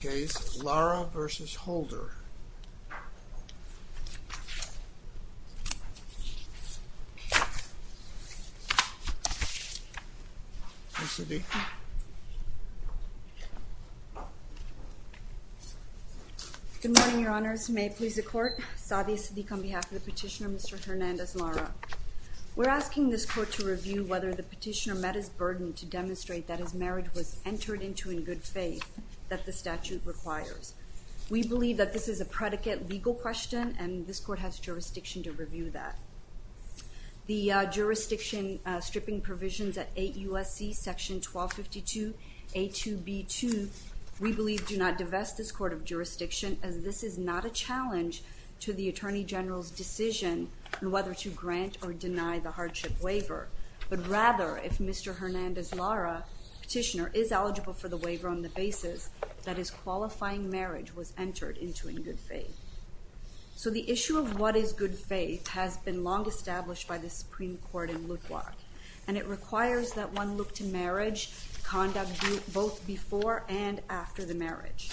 Sadia Siddiq on behalf of the Petitioner, Mr. Hernandez-Lara. We're asking this Court to review whether the Petitioner met his burden to demonstrate that his marriage was entered into in good faith that the statute requires. We believe that this is a predicate legal question, and this Court has jurisdiction to review that. The jurisdiction stripping provisions at 8 U.S.C., Section 1252, A2B2, we believe do not divest this Court of Jurisdiction, as this is not a challenge to the Attorney General's decision on whether to grant or deny the hardship waiver, but rather, if Mr. Hernandez-Lara Petitioner is eligible for the waiver on the basis that his qualifying marriage was entered into in good faith. So the issue of what is good faith has been long established by the Supreme Court in Lutwak, and it requires that one look to marriage conduct both before and after the marriage.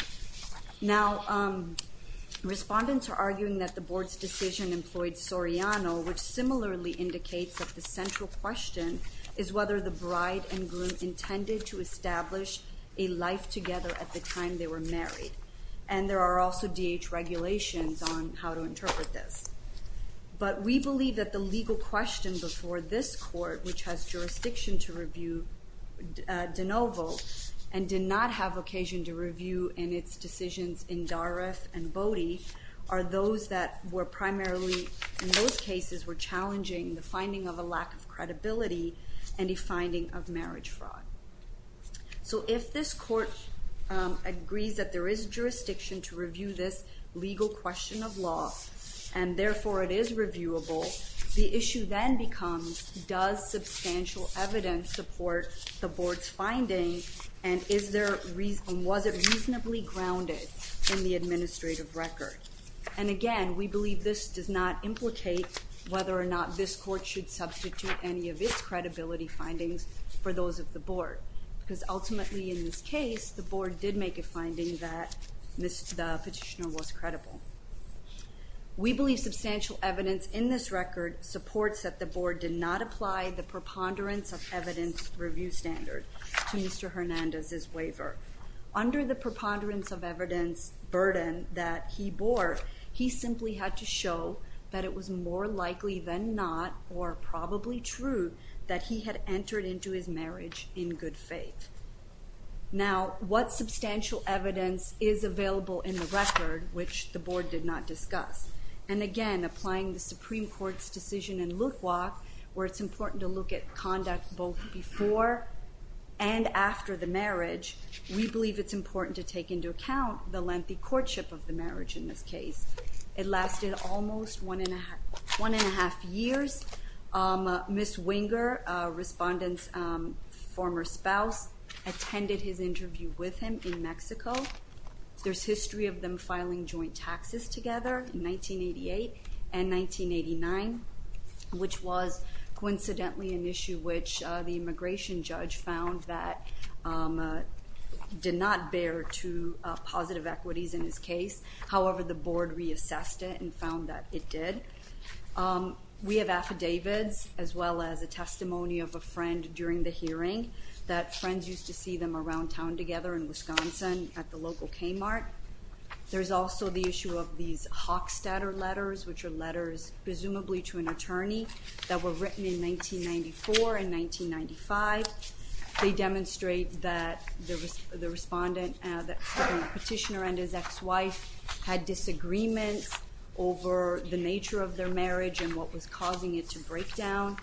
Now respondents are arguing that the Board's decision employed Soriano, which similarly indicates that the central question is whether the bride and groom intended to establish a life together at the time they were married. And there are also DH regulations on how to interpret this. But we believe that the legal question before this Court, which has jurisdiction to review de novo, and did not have occasion to review in its decisions in Darif and Bodhi, are those that were primarily, in those cases, were challenging the finding of a lack of credibility and a finding of marriage fraud. So if this Court agrees that there is jurisdiction to review this legal question of law, and therefore it is reviewable, the issue then becomes, does substantial evidence support the Board's finding, and was it reasonably grounded in the administrative record? And again, we believe this does not implicate whether or not this Court should substitute any of its credibility findings for those of the Board, because ultimately in this case, the Board did make a finding that the petitioner was credible. We believe substantial evidence in this record supports that the Board did not apply the preponderance of evidence review standard to Mr. Hernandez's waiver. Under the preponderance of evidence burden that he bore, he simply had to show that it was more likely than not, or probably true, that he had entered into his marriage in good faith. Now what substantial evidence is available in the record, which the Board did not discuss? And again, applying the Supreme Court's decision in Lukwak, where it's important to look at We believe it's important to take into account the lengthy courtship of the marriage in this case. It lasted almost one and a half years. Ms. Winger, Respondent's former spouse, attended his interview with him in Mexico. There's history of them filing joint taxes together in 1988 and 1989, which was coincidentally an issue which the immigration judge found that did not bear to positive equities in his case. However, the Board reassessed it and found that it did. We have affidavits, as well as a testimony of a friend during the hearing, that friends used to see them around town together in Wisconsin at the local Kmart. There's also the issue of these Hockstetter letters, which are letters presumably to an They demonstrate that the petitioner and his ex-wife had disagreements over the nature of their marriage and what was causing it to break down.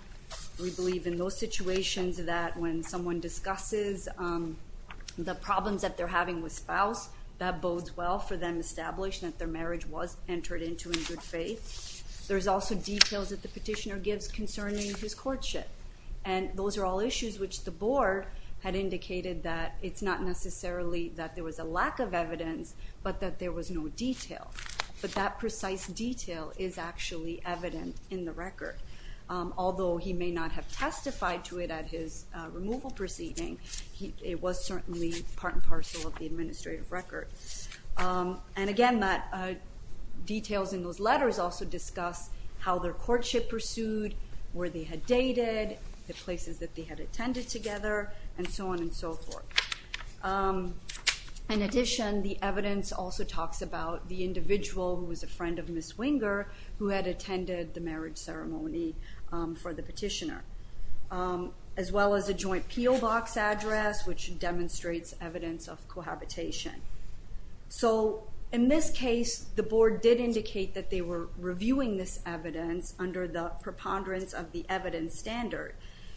We believe in those situations that when someone discusses the problems that they're having with spouse, that bodes well for them to establish that their marriage was entered into in good faith. There's also details that the petitioner gives concerning his courtship, and those are all issues which the Board had indicated that it's not necessarily that there was a lack of evidence, but that there was no detail, but that precise detail is actually evident in the record. Although he may not have testified to it at his removal proceeding, it was certainly part and parcel of the administrative record. Again, the details in those letters also discuss how their courtship pursued, where they had dated, the places that they had attended together, and so on and so forth. In addition, the evidence also talks about the individual who was a friend of Ms. Winger, who had attended the marriage ceremony for the petitioner, as well as a joint PO Box address, which demonstrates evidence of cohabitation. In this case, the Board did indicate that they were reviewing this evidence under the preponderance of the evidence standard,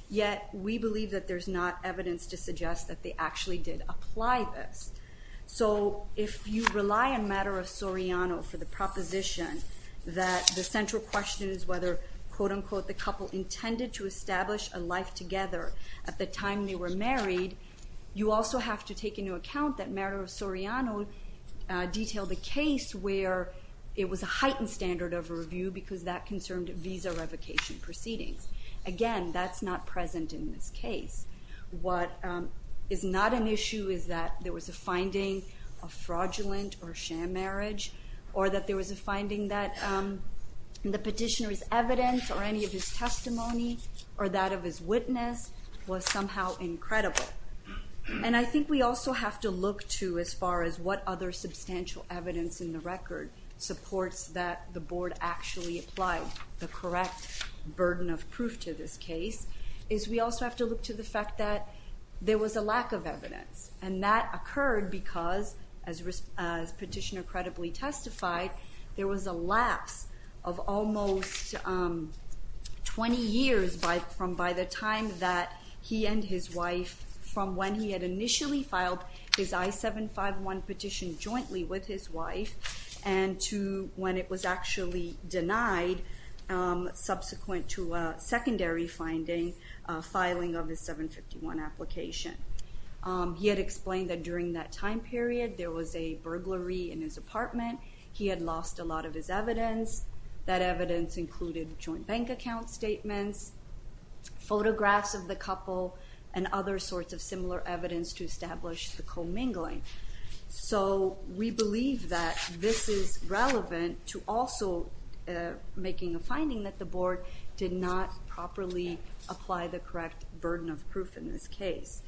yet we believe that there's not evidence to suggest that they actually did apply this. If you rely on the matter of Soriano for the proposition that the central question is whether the couple intended to establish a life together at the time they were married, you also have to take into account that matter of Soriano detailed a case where it was a heightened standard of review because that concerned visa revocation proceedings. Again, that's not present in this case. What is not an issue is that there was a finding of fraudulent or sham marriage, or that there were any of his testimony, or that of his witness was somehow incredible. I think we also have to look to, as far as what other substantial evidence in the record supports that the Board actually applied the correct burden of proof to this case, is we also have to look to the fact that there was a lack of evidence. That occurred because, as Petitioner credibly testified, there was a lapse of almost 20 years by the time that he and his wife, from when he had initially filed his I-751 petition jointly with his wife, and to when it was actually denied subsequent to a secondary filing of his I-751 application. He had explained that during that time period, there was a burglary in his apartment. He had lost a lot of his evidence. That evidence included joint bank account statements, photographs of the couple, and other sorts of similar evidence to establish the commingling. So we believe that this is relevant to also making a finding that the Board did not properly apply the correct burden of proof in this case.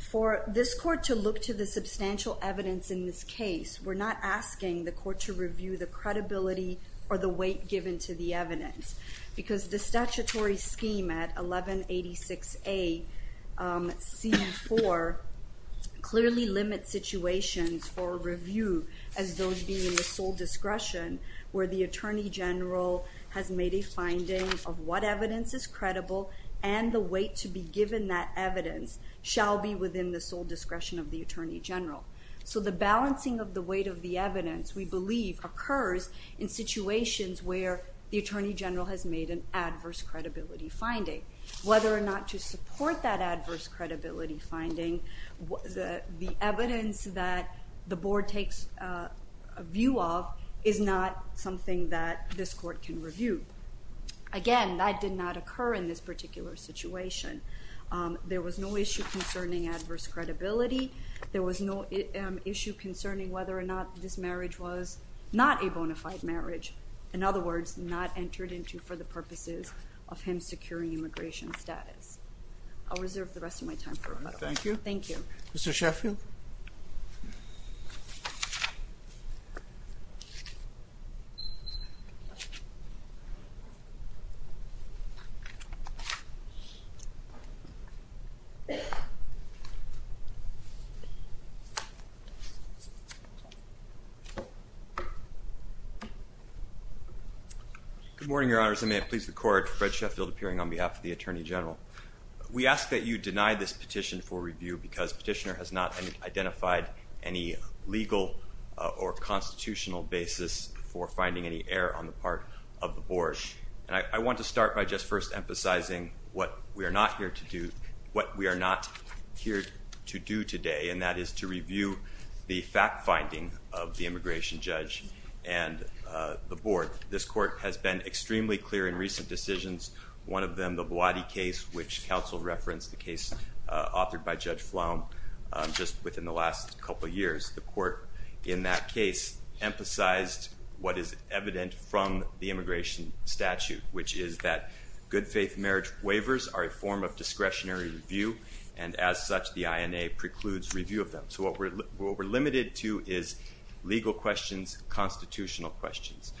For this Court to look to the substantial evidence in this case, we're not asking the Court to review the credibility or the weight given to the evidence, because the statutory situations for review, as those being the sole discretion, where the Attorney General has made a finding of what evidence is credible, and the weight to be given that evidence, shall be within the sole discretion of the Attorney General. So the balancing of the weight of the evidence, we believe, occurs in situations where the Attorney General has made an adverse credibility finding. Whether or not to support that adverse credibility finding, the evidence that the Board takes a view of is not something that this Court can review. Again, that did not occur in this particular situation. There was no issue concerning adverse credibility. There was no issue concerning whether or not this marriage was not a bona fide marriage. In other words, not entered into for the purposes of him securing immigration status. I'll reserve the rest of my time for rebuttal. Thank you. Mr. Sheffield? Thank you, Mr. Chairman. Good morning, Your Honors. I may have pleased the Court. Fred Sheffield, appearing on behalf of the Attorney General. We ask that you deny this petition for review, because Petitioner has not identified any legal or constitutional basis for finding any error on the part of the Board. And I want to start by just first emphasizing what we are not here to do today, and that has been extremely clear in recent decisions. One of them, the Boadie case, which counsel referenced, the case authored by Judge Flom just within the last couple of years. The Court in that case emphasized what is evident from the immigration statute, which is that good faith marriage waivers are a form of discretionary review, and as such, the INA precludes review of them. So what we're limited to is legal questions, constitutional questions.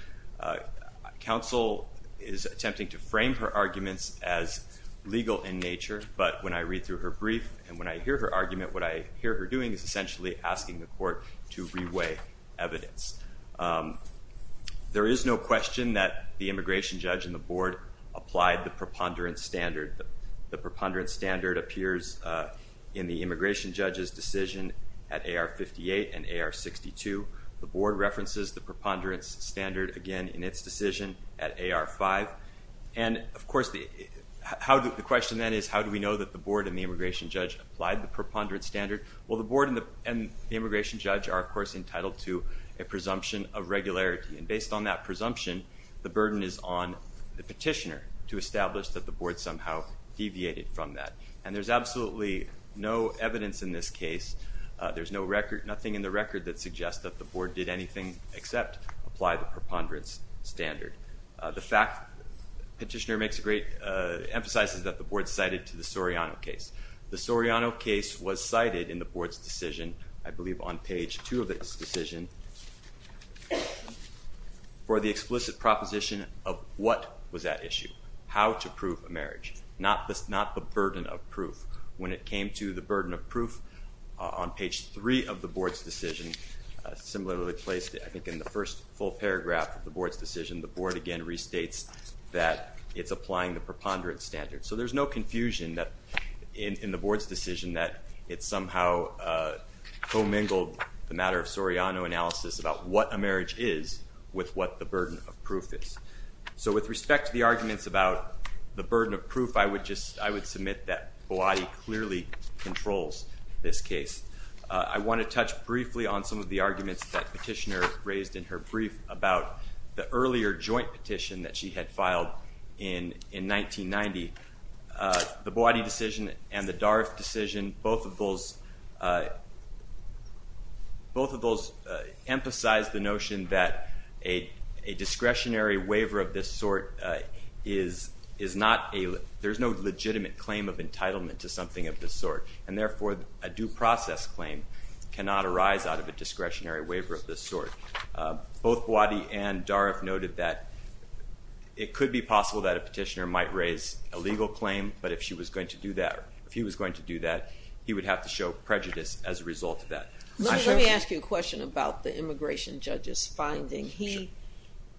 Counsel is attempting to frame her arguments as legal in nature, but when I read through her brief and when I hear her argument, what I hear her doing is essentially asking the Court to reweigh evidence. There is no question that the immigration judge and the Board applied the preponderance standard. The preponderance standard appears in the immigration judge's decision at AR-58 and AR-62. The Board references the preponderance standard again in its decision at AR-5. And of course, the question then is, how do we know that the Board and the immigration judge applied the preponderance standard? Well, the Board and the immigration judge are, of course, entitled to a presumption of regularity, and based on that presumption, the burden is on the petitioner to establish that the Board somehow deviated from that. And there's absolutely no evidence in this case, there's nothing in the record that suggests that the Board did anything except apply the preponderance standard. The fact, the petitioner emphasizes that the Board cited to the Soriano case. The Soriano case was cited in the Board's decision, I believe on page two of its decision, for the explicit proposition of what was at issue, how to prove a marriage, not the burden of proof. When it came to the burden of proof, on page three of the Board's decision, similarly placed, I think in the first full paragraph of the Board's decision, the Board again restates that it's applying the preponderance standard. So there's no confusion in the Board's decision that it somehow co-mingled the matter of Soriano analysis about what a marriage is with what the burden of proof is. So with respect to the arguments about the burden of proof, I would just, I would submit that Boadi clearly controls this case. I want to touch briefly on some of the arguments that petitioner raised in her brief about the earlier joint petition that she had filed in 1990. The Boadi decision and the Daruff decision, both of those, both of those emphasize the notion that a discretionary waiver of this sort is not a, there's no legitimate claim of entitlement to something of this sort. And therefore, a due process claim cannot arise out of a discretionary waiver of this sort. Both Boadi and Daruff noted that it could be possible that a petitioner might raise a legal claim, but if she was going to do that, if he was going to do that, he would have to show prejudice as a result of that. Let me ask you a question about the immigration judge's finding. He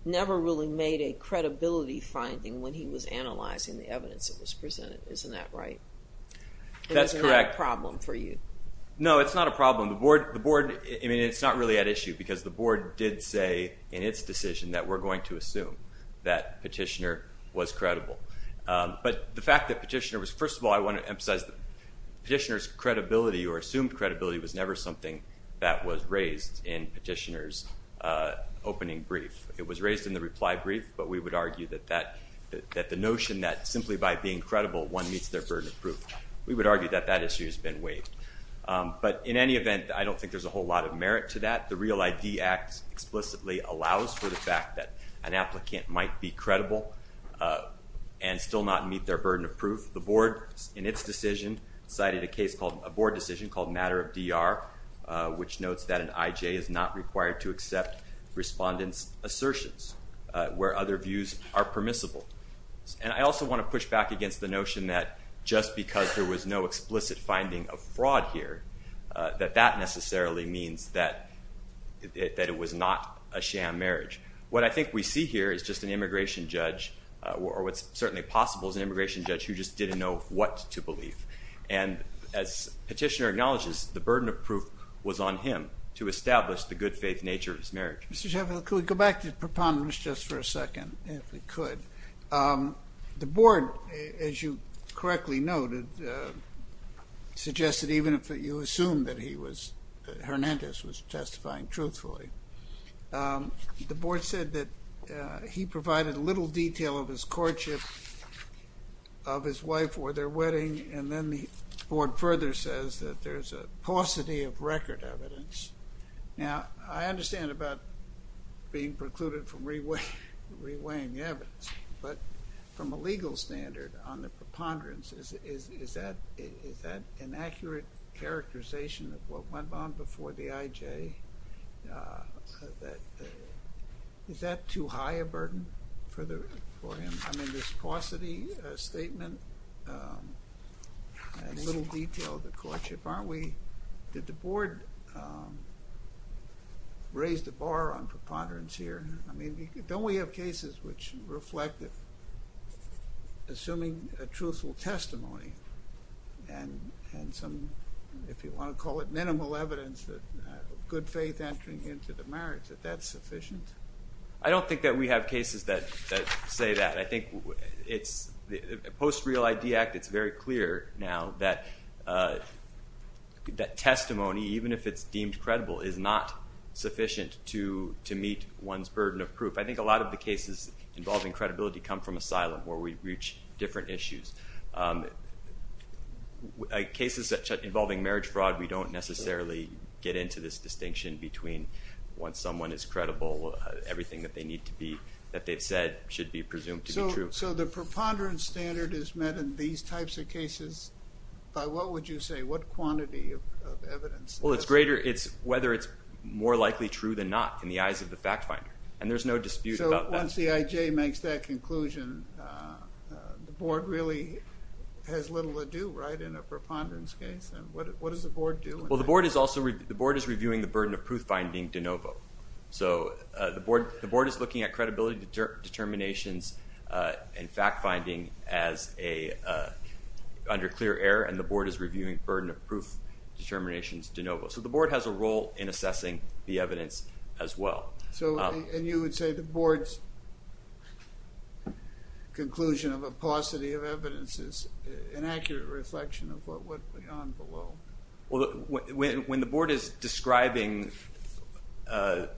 never really made a credibility finding when he was analyzing the evidence that was Isn't that right? That's correct. It's not a problem for you? No, it's not a problem. The board, the board, I mean, it's not really at issue because the board did say in its decision that we're going to assume that petitioner was credible. But the fact that petitioner was, first of all, I want to emphasize that petitioner's credibility or assumed credibility was never something that was raised in petitioner's opening brief. It was raised in the reply brief, but we would argue that that, that the notion that simply by being credible, one meets their burden of proof. We would argue that that issue has been waived. But in any event, I don't think there's a whole lot of merit to that. The Real ID Act explicitly allows for the fact that an applicant might be credible and still not meet their burden of proof. The board, in its decision, cited a case called, a board decision called Matter of DR, which notes that an IJ is not required to accept respondents' assertions where other views are permissible. And I also want to push back against the notion that just because there was no explicit finding of fraud here, that that necessarily means that it was not a sham marriage. What I think we see here is just an immigration judge, or what's certainly possible is an immigration judge who just didn't know what to believe. And as petitioner acknowledges, the burden of proof was on him to establish the good faith nature of his marriage. Mr. Sheffield, could we go back to the preponderance just for a second, if we could? The board, as you correctly noted, suggested even if you assume that he was, Hernandez was testifying truthfully, the board said that he provided little detail of his courtship of his wife or their wedding, and then the board further says that there's a paucity of record evidence. Now, I understand about being precluded from reweighing the evidence, but from a legal standard on the preponderance, is that an accurate characterization of what went on before the IJ? Is that too high a burden for him? I mean, this paucity statement, little detail of the courtship, aren't we, did the board raise the bar on preponderance here? I mean, don't we have cases which reflect assuming a truthful testimony and some, if you want to call it minimal evidence, good faith entering into the marriage, that that's sufficient? I don't think that we have cases that say that. I think post Real ID Act, it's very clear now that testimony, even if it's deemed credible, is not sufficient to meet one's burden of proof. I think a lot of the cases involving credibility come from asylum, where we reach different issues. Cases involving marriage fraud, we don't necessarily get into this distinction between once someone is credible, everything that they need to be, that they've said should be presumed to be true. So the preponderance standard is met in these types of cases by what would you say, what quantity of evidence? Well, it's greater, it's whether it's more likely true than not in the eyes of the fact finder. And there's no dispute about that. So once the IJ makes that conclusion, the board really has little to do, right, in a preponderance case? And what does the board do? Well, the board is also, the board is reviewing the burden of proof finding de novo. So the board is looking at credibility determinations and fact finding as a, under clear air, and the board is reviewing burden of proof determinations de novo. So the board has a role in assessing the evidence as well. So and you would say the board's conclusion of a paucity of evidence is an accurate reflection of what went on below? Well, when the board is describing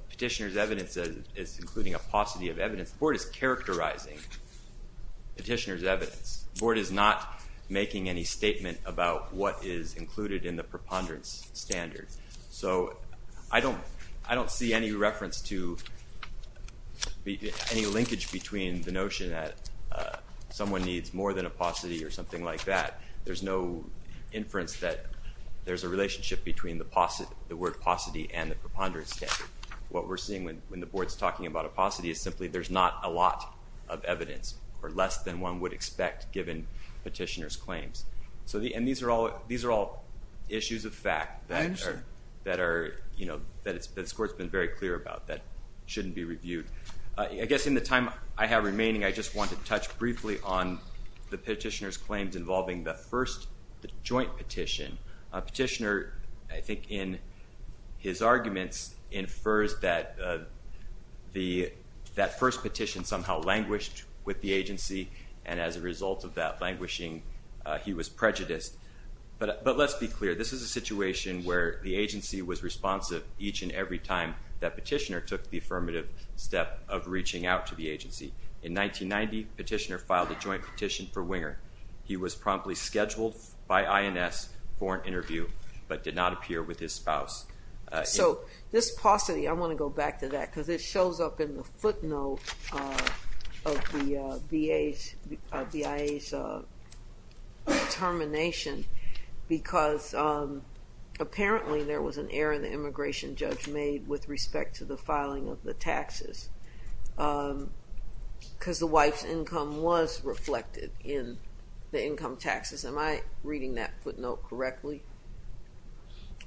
petitioner's evidence as including a paucity of evidence, the board is characterizing petitioner's evidence. The board is not making any statement about what is included in the preponderance standard. So I don't, I don't see any reference to any linkage between the notion that someone needs more than a paucity or something like that. There's no inference that there's a relationship between the word paucity and the preponderance standard. What we're seeing when the board's talking about a paucity is simply there's not a lot of evidence or less than one would expect given petitioner's claims. So the, and these are all, these are all issues of fact that are, you know, that this court's been very clear about that shouldn't be reviewed. I guess in the time I have remaining, I just want to touch briefly on the petitioner's claim involving the first joint petition. Petitioner I think in his arguments infers that the, that first petition somehow languished with the agency and as a result of that languishing he was prejudiced. But let's be clear. This is a situation where the agency was responsive each and every time that petitioner took the affirmative step of reaching out to the agency. In 1990, petitioner filed a joint petition for Winger. He was promptly scheduled by INS for an interview, but did not appear with his spouse. So this paucity, I want to go back to that because it shows up in the footnote of the BIA's determination because apparently there was an error in the immigration judge made with respect to the filing of the taxes because the wife's income was reflected in the income taxes. Am I reading that footnote correctly?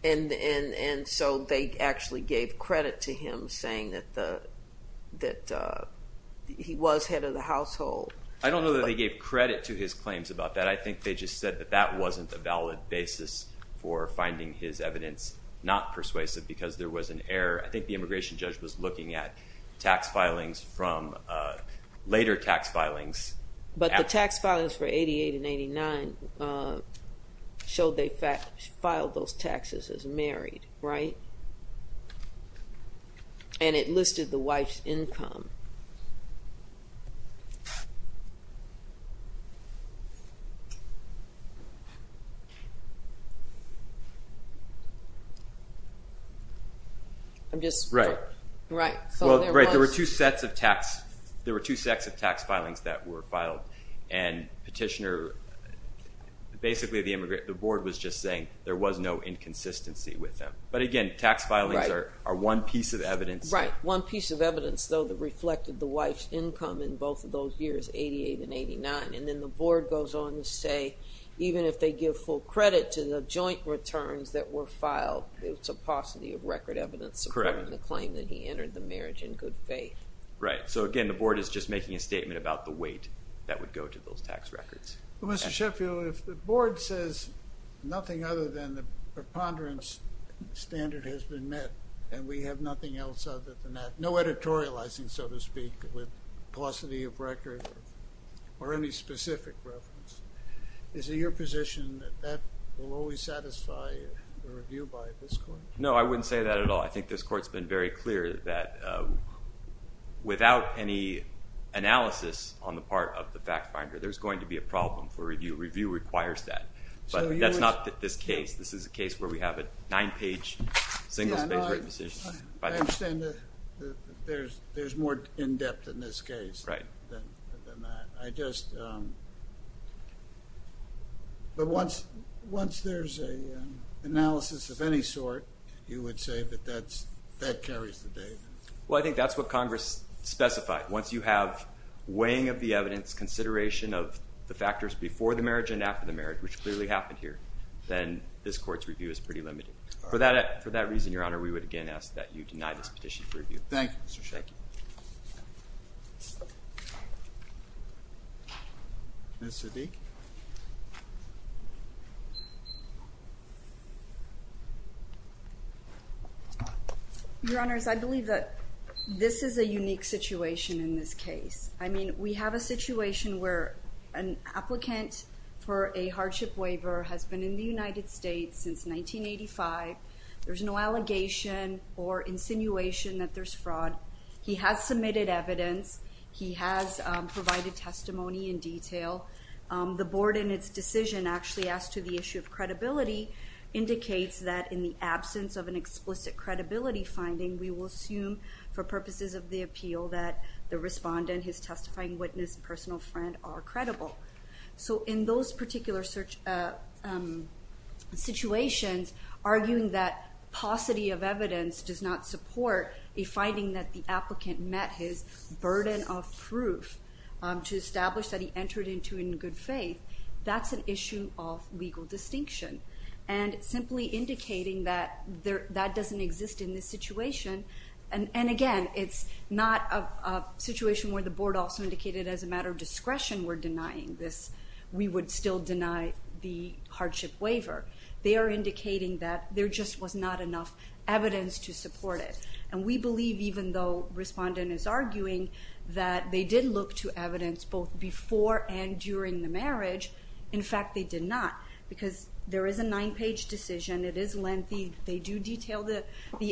And so they actually gave credit to him saying that the, that he was head of the household. I don't know that they gave credit to his claims about that. I think they just said that that wasn't a valid basis for finding his evidence not persuasive because there was an error. I think the immigration judge was looking at tax filings from, later tax filings. But the tax filings for 88 and 89 showed they filed those taxes as married, right? And it listed the wife's income. I'm just. Right. Right. Well, right. There were two sets of tax, there were two sets of tax filings that were filed and petitioner, basically the board was just saying there was no inconsistency with them. But again, tax filings are one piece of evidence. Right. One piece of evidence though that reflected the wife's income in both of those years, 88 and 89. And then the board goes on to say, even if they give full credit to the joint returns that were filed, it's a paucity of record evidence supporting the claim that he entered the marriage in good faith. Right. So again, the board is just making a statement about the weight that would go to those tax records. Mr. Sheffield, if the board says nothing other than the preponderance standard has been met and we have nothing else other than that, no editorializing, so to speak, with paucity of record or any specific reference, is it your position that that will always satisfy the review by this court? No, I wouldn't say that at all. I think this court's been very clear that without any analysis on the part of the fact finder, there's going to be a problem for review. Review requires that. But that's not this case. This is a case where we have a nine-page, single-spaced written decision by the board. I understand that there's more in-depth in this case than that. But once there's an analysis of any sort, you would say that that carries the day? Well, I think that's what Congress specified. Once you have weighing of the evidence, consideration of the factors before the marriage and after the marriage, which clearly happened here, then this court's review is pretty limited. For that reason, Your Honor, we would again ask that you deny this petition for review. Thank you, Mr. Sheffield. Thank you. Ms. Zedek? Your Honors, I believe that this is a unique situation. I mean, we have a situation where an applicant for a hardship waiver has been in the United States since 1985. There's no allegation or insinuation that there's fraud. He has submitted evidence. He has provided testimony in detail. The board in its decision actually asked to the issue of credibility indicates that in the absence of an explicit credibility finding, we will assume for purposes of the appeal that the respondent, his testifying witness, and personal friend are credible. So in those particular situations, arguing that paucity of evidence does not support a finding that the applicant met his burden of proof to establish that he entered into in good faith, that's an issue of legal distinction. And simply indicating that that doesn't exist in this situation, and again, it's not a situation where the board also indicated as a matter of discretion we're denying this, we would still deny the hardship waiver. They are indicating that there just was not enough evidence to support it. And we believe, even though respondent is arguing that they did look to evidence both before and during the marriage, in fact, they did not, because there is a nine-page decision. It is lengthy. They do detail the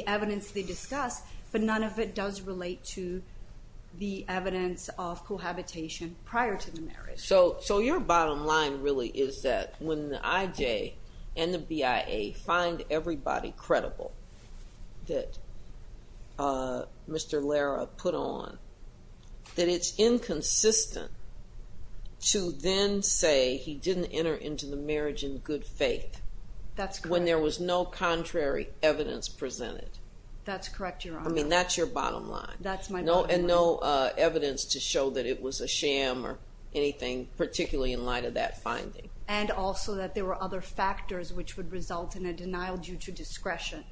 evidence they discuss, but none of it does relate to the evidence of cohabitation prior to the marriage. So your bottom line really is that when the IJ and the BIA find everybody credible that Mr. Lara put on, that it's inconsistent to then say he didn't enter into the marriage in good faith. That's correct. So there's no contrary evidence presented. That's correct, Your Honor. I mean, that's your bottom line. That's my bottom line. And no evidence to show that it was a sham or anything, particularly in light of that finding. And also that there were other factors which would result in a denial due to discretion,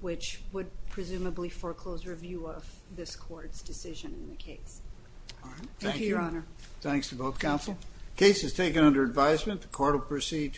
which would presumably foreclose review of this court's decision in the case. Thank you, Your Honor. Thank you. Thanks to both counsel. The case is taken under advisement. The court will proceed.